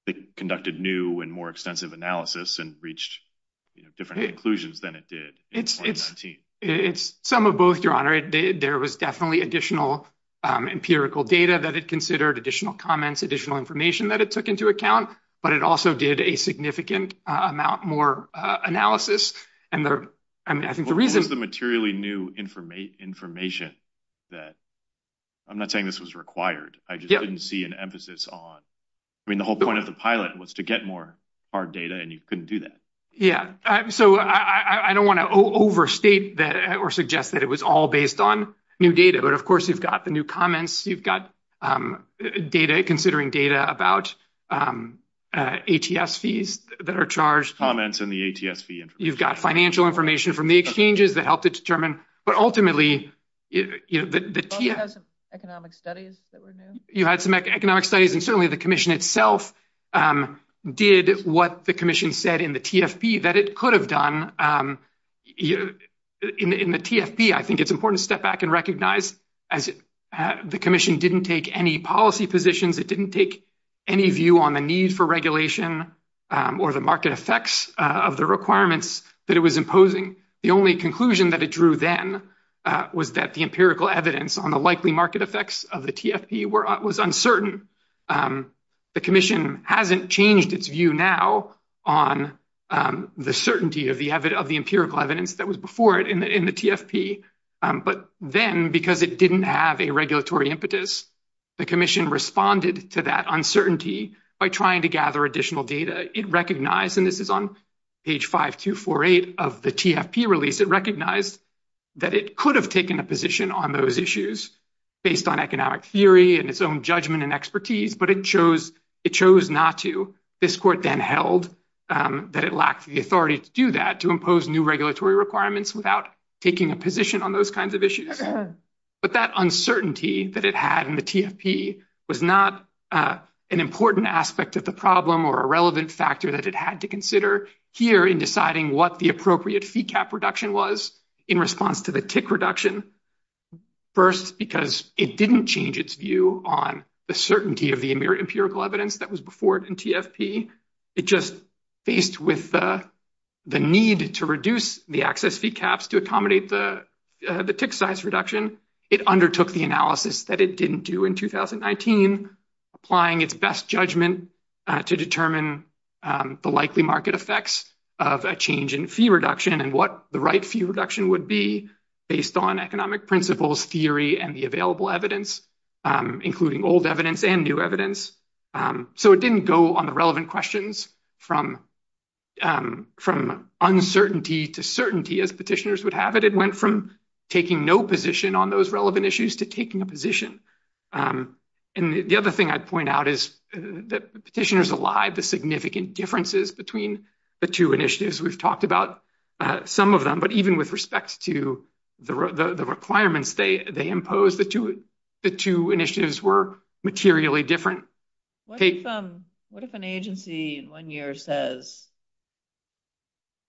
it conducted new and more extensive analysis and reached different conclusions than it did in 2019? It's some of both, Your Honor. There was definitely additional empirical data that it considered, additional comments, additional information that it took into account. But it also did a significant amount more analysis. What was the materially new information that – I'm not saying this was required. I just didn't see an emphasis on – I mean, the whole point of the pilot was to get more hard data, and you couldn't do that. Yeah, so I don't want to overstate that or suggest that it was all based on new data. But, of course, you've got the new comments. You've got data, considering data about ATS fees that are charged. You've got financial information from the exchanges that helped it determine. But ultimately, you had some economic studies, and certainly the commission itself did what the commission said in the TFP that it could have done. In the TFP, I think it's important to step back and recognize the commission didn't take any policy positions. It didn't take any view on the need for regulation or the market effects of the requirements that it was imposing. The only conclusion that it drew then was that the empirical evidence on the likely market effects of the TFP was uncertain. The commission hasn't changed its view now on the certainty of the empirical evidence that was before it in the TFP. But then, because it didn't have a regulatory impetus, the commission responded to that uncertainty by trying to gather additional data. It recognized, and this is on page 5248 of the TFP release, it recognized that it could have taken a position on those issues based on economic theory and its own judgment and expertise, but it chose not to. This court then held that it lacked the authority to do that, to impose new regulatory requirements without taking a position on those kinds of issues. But that uncertainty that it had in the TFP was not an important aspect of the problem or a relevant factor that it had to consider here in deciding what the appropriate fee cap reduction was in response to the tick reduction. First, because it didn't change its view on the certainty of the empirical evidence that was before it in TFP. It just faced with the need to reduce the excess fee caps to accommodate the tick size reduction. It undertook the analysis that it didn't do in 2019, applying its best judgment to determine the likely market effects of a change in fee reduction and what the right fee reduction would be based on economic principles, theory, and the available evidence, including old evidence and new evidence. So it didn't go on the relevant questions from uncertainty to certainty as petitioners would have it. It went from taking no position on those relevant issues to taking a position. And the other thing I'd point out is that petitioners allied the significant differences between the two initiatives. We've talked about some of them, but even with respect to the requirements they imposed, the two initiatives were materially different. What if an agency in one year says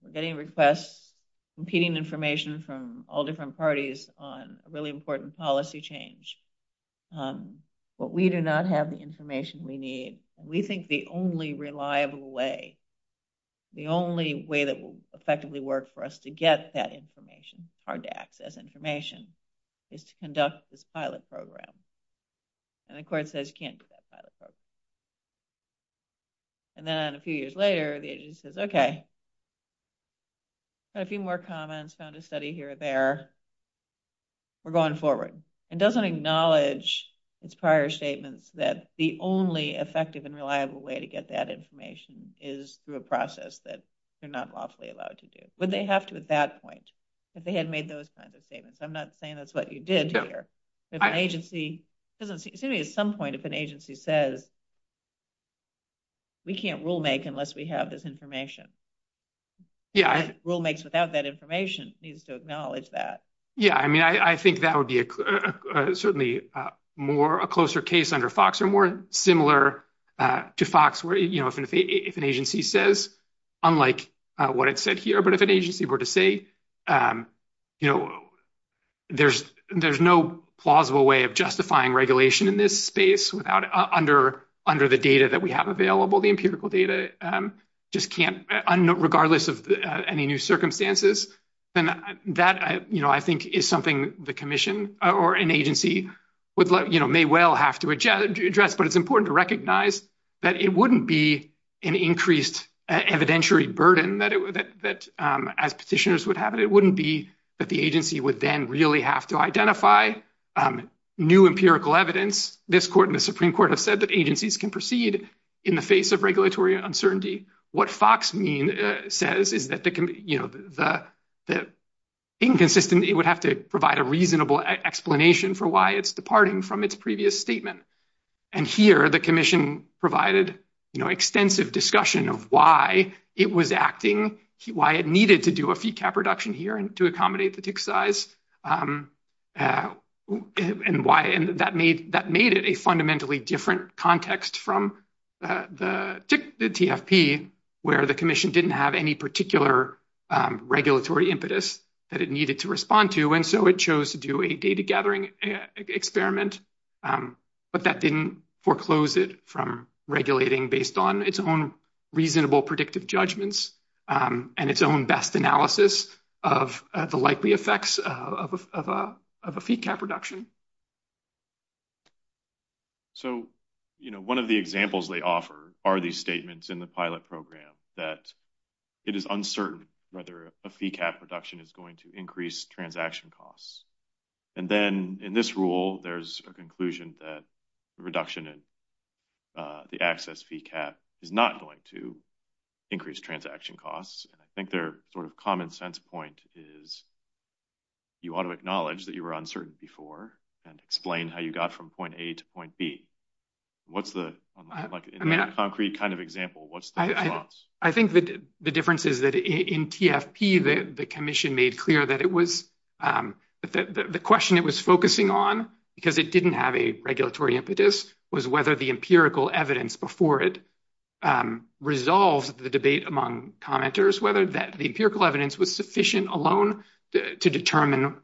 we're getting requests, competing information from all different parties on a really important policy change, but we do not have the information we need? We think the only reliable way, the only way that will effectively work for us to get that information, hard-to-access information, is to conduct this pilot program. And the court says you can't do that pilot program. And then a few years later, the agency says, okay, got a few more comments, found a study here or there. We're going forward. It doesn't acknowledge its prior statements that the only effective and reliable way to get that information is through a process that they're not lawfully allowed to do. Would they have to at that point if they had made those kinds of statements? I'm not saying that's what you did here. It's going to be at some point if an agency says we can't rule-make unless we have this information. Rule-makes without that information needs to acknowledge that. Yeah, I mean, I think that would be certainly a closer case under FOX or more similar to FOX where, you know, if an agency says, unlike what it said here, but if an agency were to say, you know, there's no plausible way of justifying regulation in this space under the data that we have available, the empirical data, regardless of any new circumstances, then that, you know, I think is something the commission or an agency may well have to address. But it's important to recognize that it wouldn't be an increased evidentiary burden that as petitioners would have it. It wouldn't be that the agency would then really have to identify new empirical evidence. This court and the Supreme Court have said that agencies can proceed in the face of regulatory uncertainty. What FOX mean says is that, you know, the inconsistent, it would have to provide a reasonable explanation for why it's departing from its previous statement. And here the commission provided, you know, extensive discussion of why it was acting, why it needed to do a fee cap reduction here and to accommodate the tick size. And why that made that made it a fundamentally different context from the TFP, where the commission didn't have any particular regulatory impetus that it needed to respond to. And so it chose to do a data gathering experiment. But that didn't foreclose it from regulating based on its own reasonable predictive judgments and its own best analysis of the likely effects of a fee cap reduction. So, you know, one of the examples they offer are these statements in the pilot program that it is uncertain whether a fee cap reduction is going to increase transaction costs. And then in this rule, there's a conclusion that reduction in the access fee cap is not going to increase transaction costs. And I think they're sort of common sense point is. You ought to acknowledge that you were uncertain before and explain how you got from point A to point B. What's the concrete kind of example? What's the difference? I think the difference is that in TFP, the commission made clear that it was the question it was focusing on because it didn't have a regulatory impetus was whether the empirical evidence before it resolves the debate among commenters, whether that the empirical evidence was sufficient alone to determine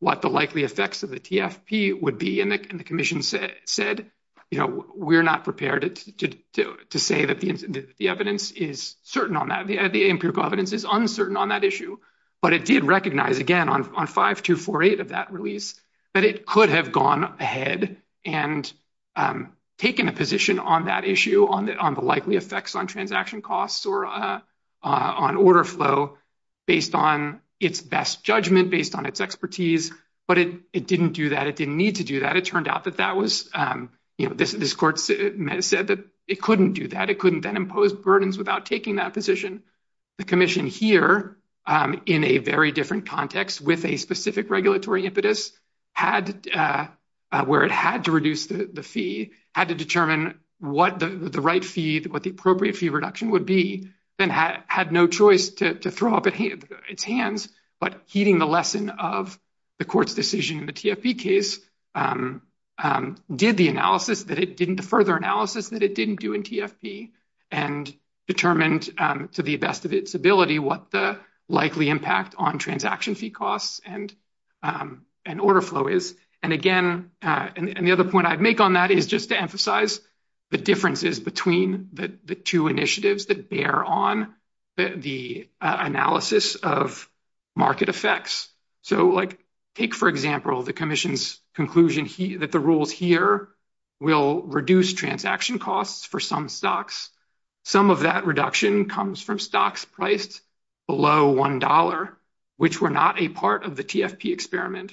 what the likely effects of the TFP would be. And the commission said, you know, we're not prepared to say that the evidence is certain on that. The empirical evidence is uncertain on that issue, but it did recognize, again, on 5248 of that release, that it could have gone ahead and taken a position on that issue on the likely effects on transaction costs or on order flow based on its best judgment, based on its expertise. But it didn't do that. It didn't need to do that. It turned out that that was, you know, this court said that it couldn't do that. It couldn't then impose burdens without taking that position. The commission here in a very different context with a specific regulatory impetus had where it had to reduce the fee, had to determine what the right fee, what the appropriate fee reduction would be, then had no choice to throw up its hands. But heeding the lesson of the court's decision in the TFP case, did the analysis that it didn't, the further analysis that it didn't do in TFP, and determined to the best of its ability what the likely impact on transaction fee costs and order flow is. And again, and the other point I'd make on that is just to emphasize the differences between the two initiatives that bear on the analysis of market effects. So, like, take, for example, the commission's conclusion that the rules here will reduce transaction costs for some stocks. Some of that reduction comes from stocks priced below $1, which were not a part of the TFP experiment.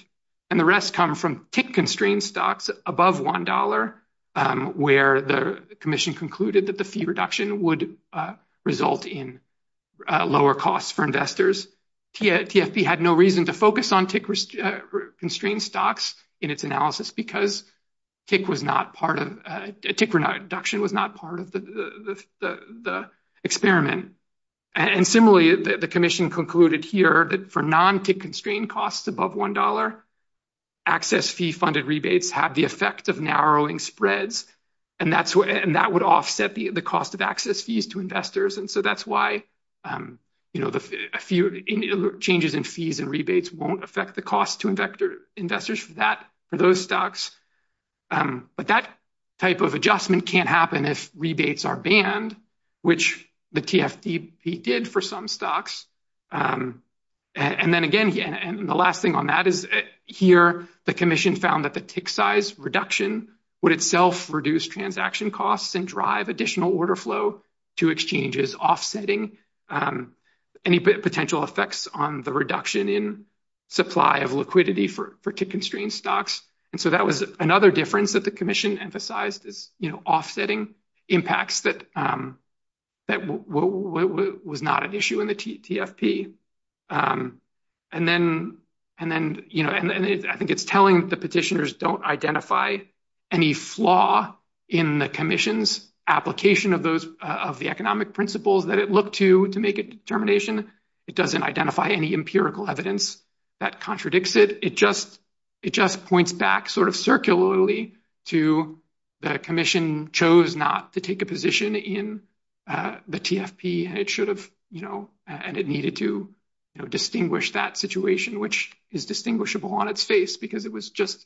And the rest come from TIC-constrained stocks above $1, where the commission concluded that the fee reduction would result in lower costs for investors. TFP had no reason to focus on TIC-constrained stocks in its analysis because TIC was not part of, TIC reduction was not part of the experiment. And similarly, the commission concluded here that for non-TIC-constrained costs above $1, access fee funded rebates have the effect of narrowing spreads, and that would offset the cost of access fees to investors. And so that's why, you know, a few changes in fees and rebates won't affect the cost to investors for those stocks. But that type of adjustment can't happen if rebates are banned, which the TFP did for some stocks. And then again, and the last thing on that is here, the commission found that the TIC size reduction would itself reduce transaction costs and drive additional order flow to exchanges, offsetting any potential effects on the reduction in supply of liquidity for TIC-constrained stocks. And so that was another difference that the commission emphasized is, you know, offsetting impacts that was not an issue in the TFP. And then, you know, I think it's telling the petitioners don't identify any flaw in the commission's application of those of the economic principles that it looked to to make a determination. It doesn't identify any empirical evidence that contradicts it. It just it just points back sort of circularly to the commission chose not to take a position in the TFP. And it should have, you know, and it needed to distinguish that situation, which is distinguishable on its face because it was just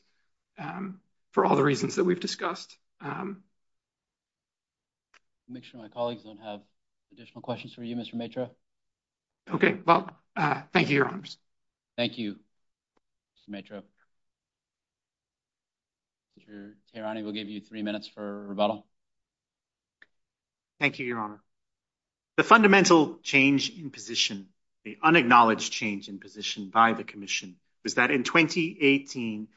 for all the reasons that we've discussed. Make sure my colleagues don't have additional questions for you, Mr. Matra. OK, well, thank you, Your Honors. Thank you, Mr. Matra. Mr. Tehrani, we'll give you three minutes for rebuttal. Thank you, Your Honor. The fundamental change in position, the unacknowledged change in position by the commission, was that in 2018,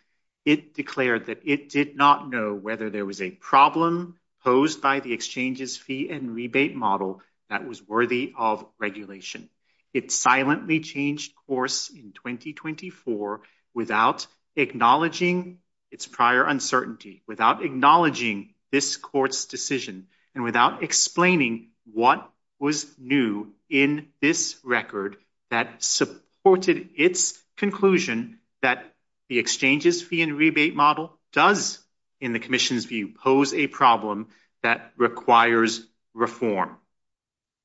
it declared that it did not know whether there was a problem posed by the exchanges fee and rebate model that was worthy of regulation. It silently changed course in 2024 without acknowledging its prior uncertainty, without acknowledging this court's decision and without explaining what was new in this record that supported its conclusion that the exchanges fee and rebate model does, in the commission's view, pose a problem that requires reform.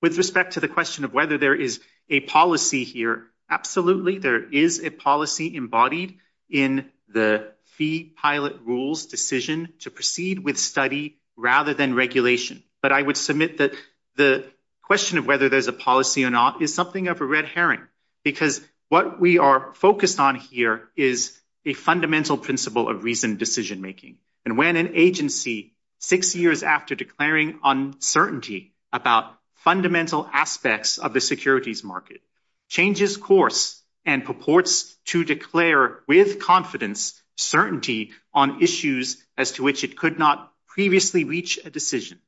With respect to the question of whether there is a policy here, absolutely, there is a policy embodied in the fee pilot rules decision to proceed with study rather than regulation. But I would submit that the question of whether there's a policy or not is something of a red herring, because what we are focused on here is a fundamental principle of reasoned decision making. And when an agency, six years after declaring uncertainty about fundamental aspects of the securities market, changes course and purports to declare with confidence certainty on issues as to which it could not previously reach a decision,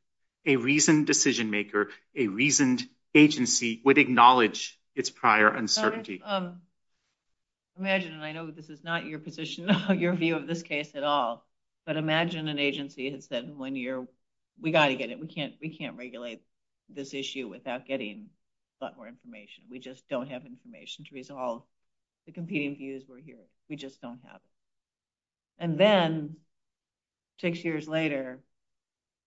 a reasoned decision maker, a reasoned agency would acknowledge its prior uncertainty. Imagine, and I know this is not your position, your view of this case at all, but imagine an agency had said in one year, we got to get it, we can't regulate this issue without getting a lot more information. We just don't have information to resolve the competing views we're hearing. We just don't have it. And then six years later,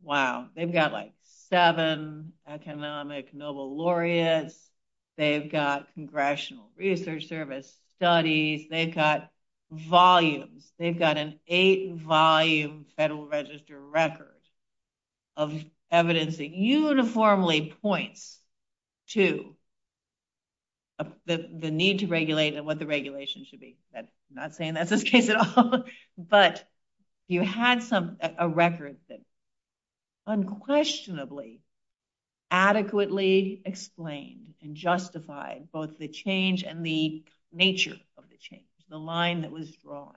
wow, they've got like seven economic Nobel laureates, they've got Congressional Research Service studies, they've got volumes, they've got an eight volume Federal Register record of evidence that uniformly points to the need to regulate and what the regulation should be. I'm not saying that's this case at all, but you had a record that unquestionably, adequately explained and justified both the change and the nature of the change, the line that was drawn.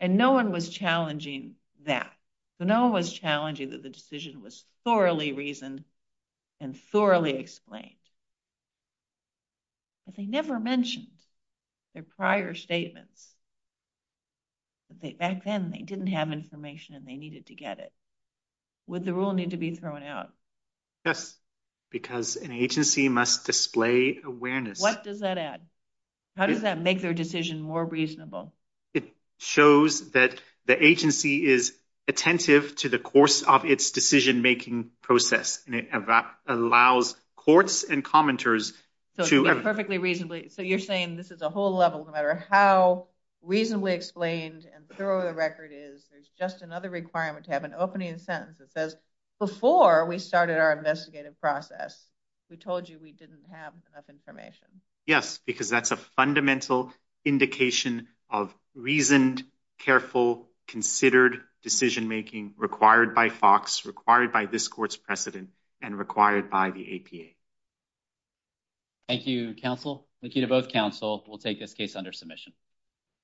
And no one was challenging that. No one was challenging that the decision was thoroughly reasoned and thoroughly explained. But they never mentioned their prior statements. Back then, they didn't have information and they needed to get it. Would the rule need to be thrown out? Yes, because an agency must display awareness. What does that add? How does that make their decision more reasonable? It shows that the agency is attentive to the course of its decision making process, and it allows courts and commenters to perfectly reasonably. So you're saying this is a whole level, no matter how reasonably explained and thorough the record is. There's just another requirement to have an opening sentence that says before we started our investigative process, we told you we didn't have enough information. Yes, because that's a fundamental indication of reasoned, careful, considered decision making required by Fox, required by this court's precedent, and required by the APA. Thank you, counsel. Thank you to both counsel. We'll take this case under submission.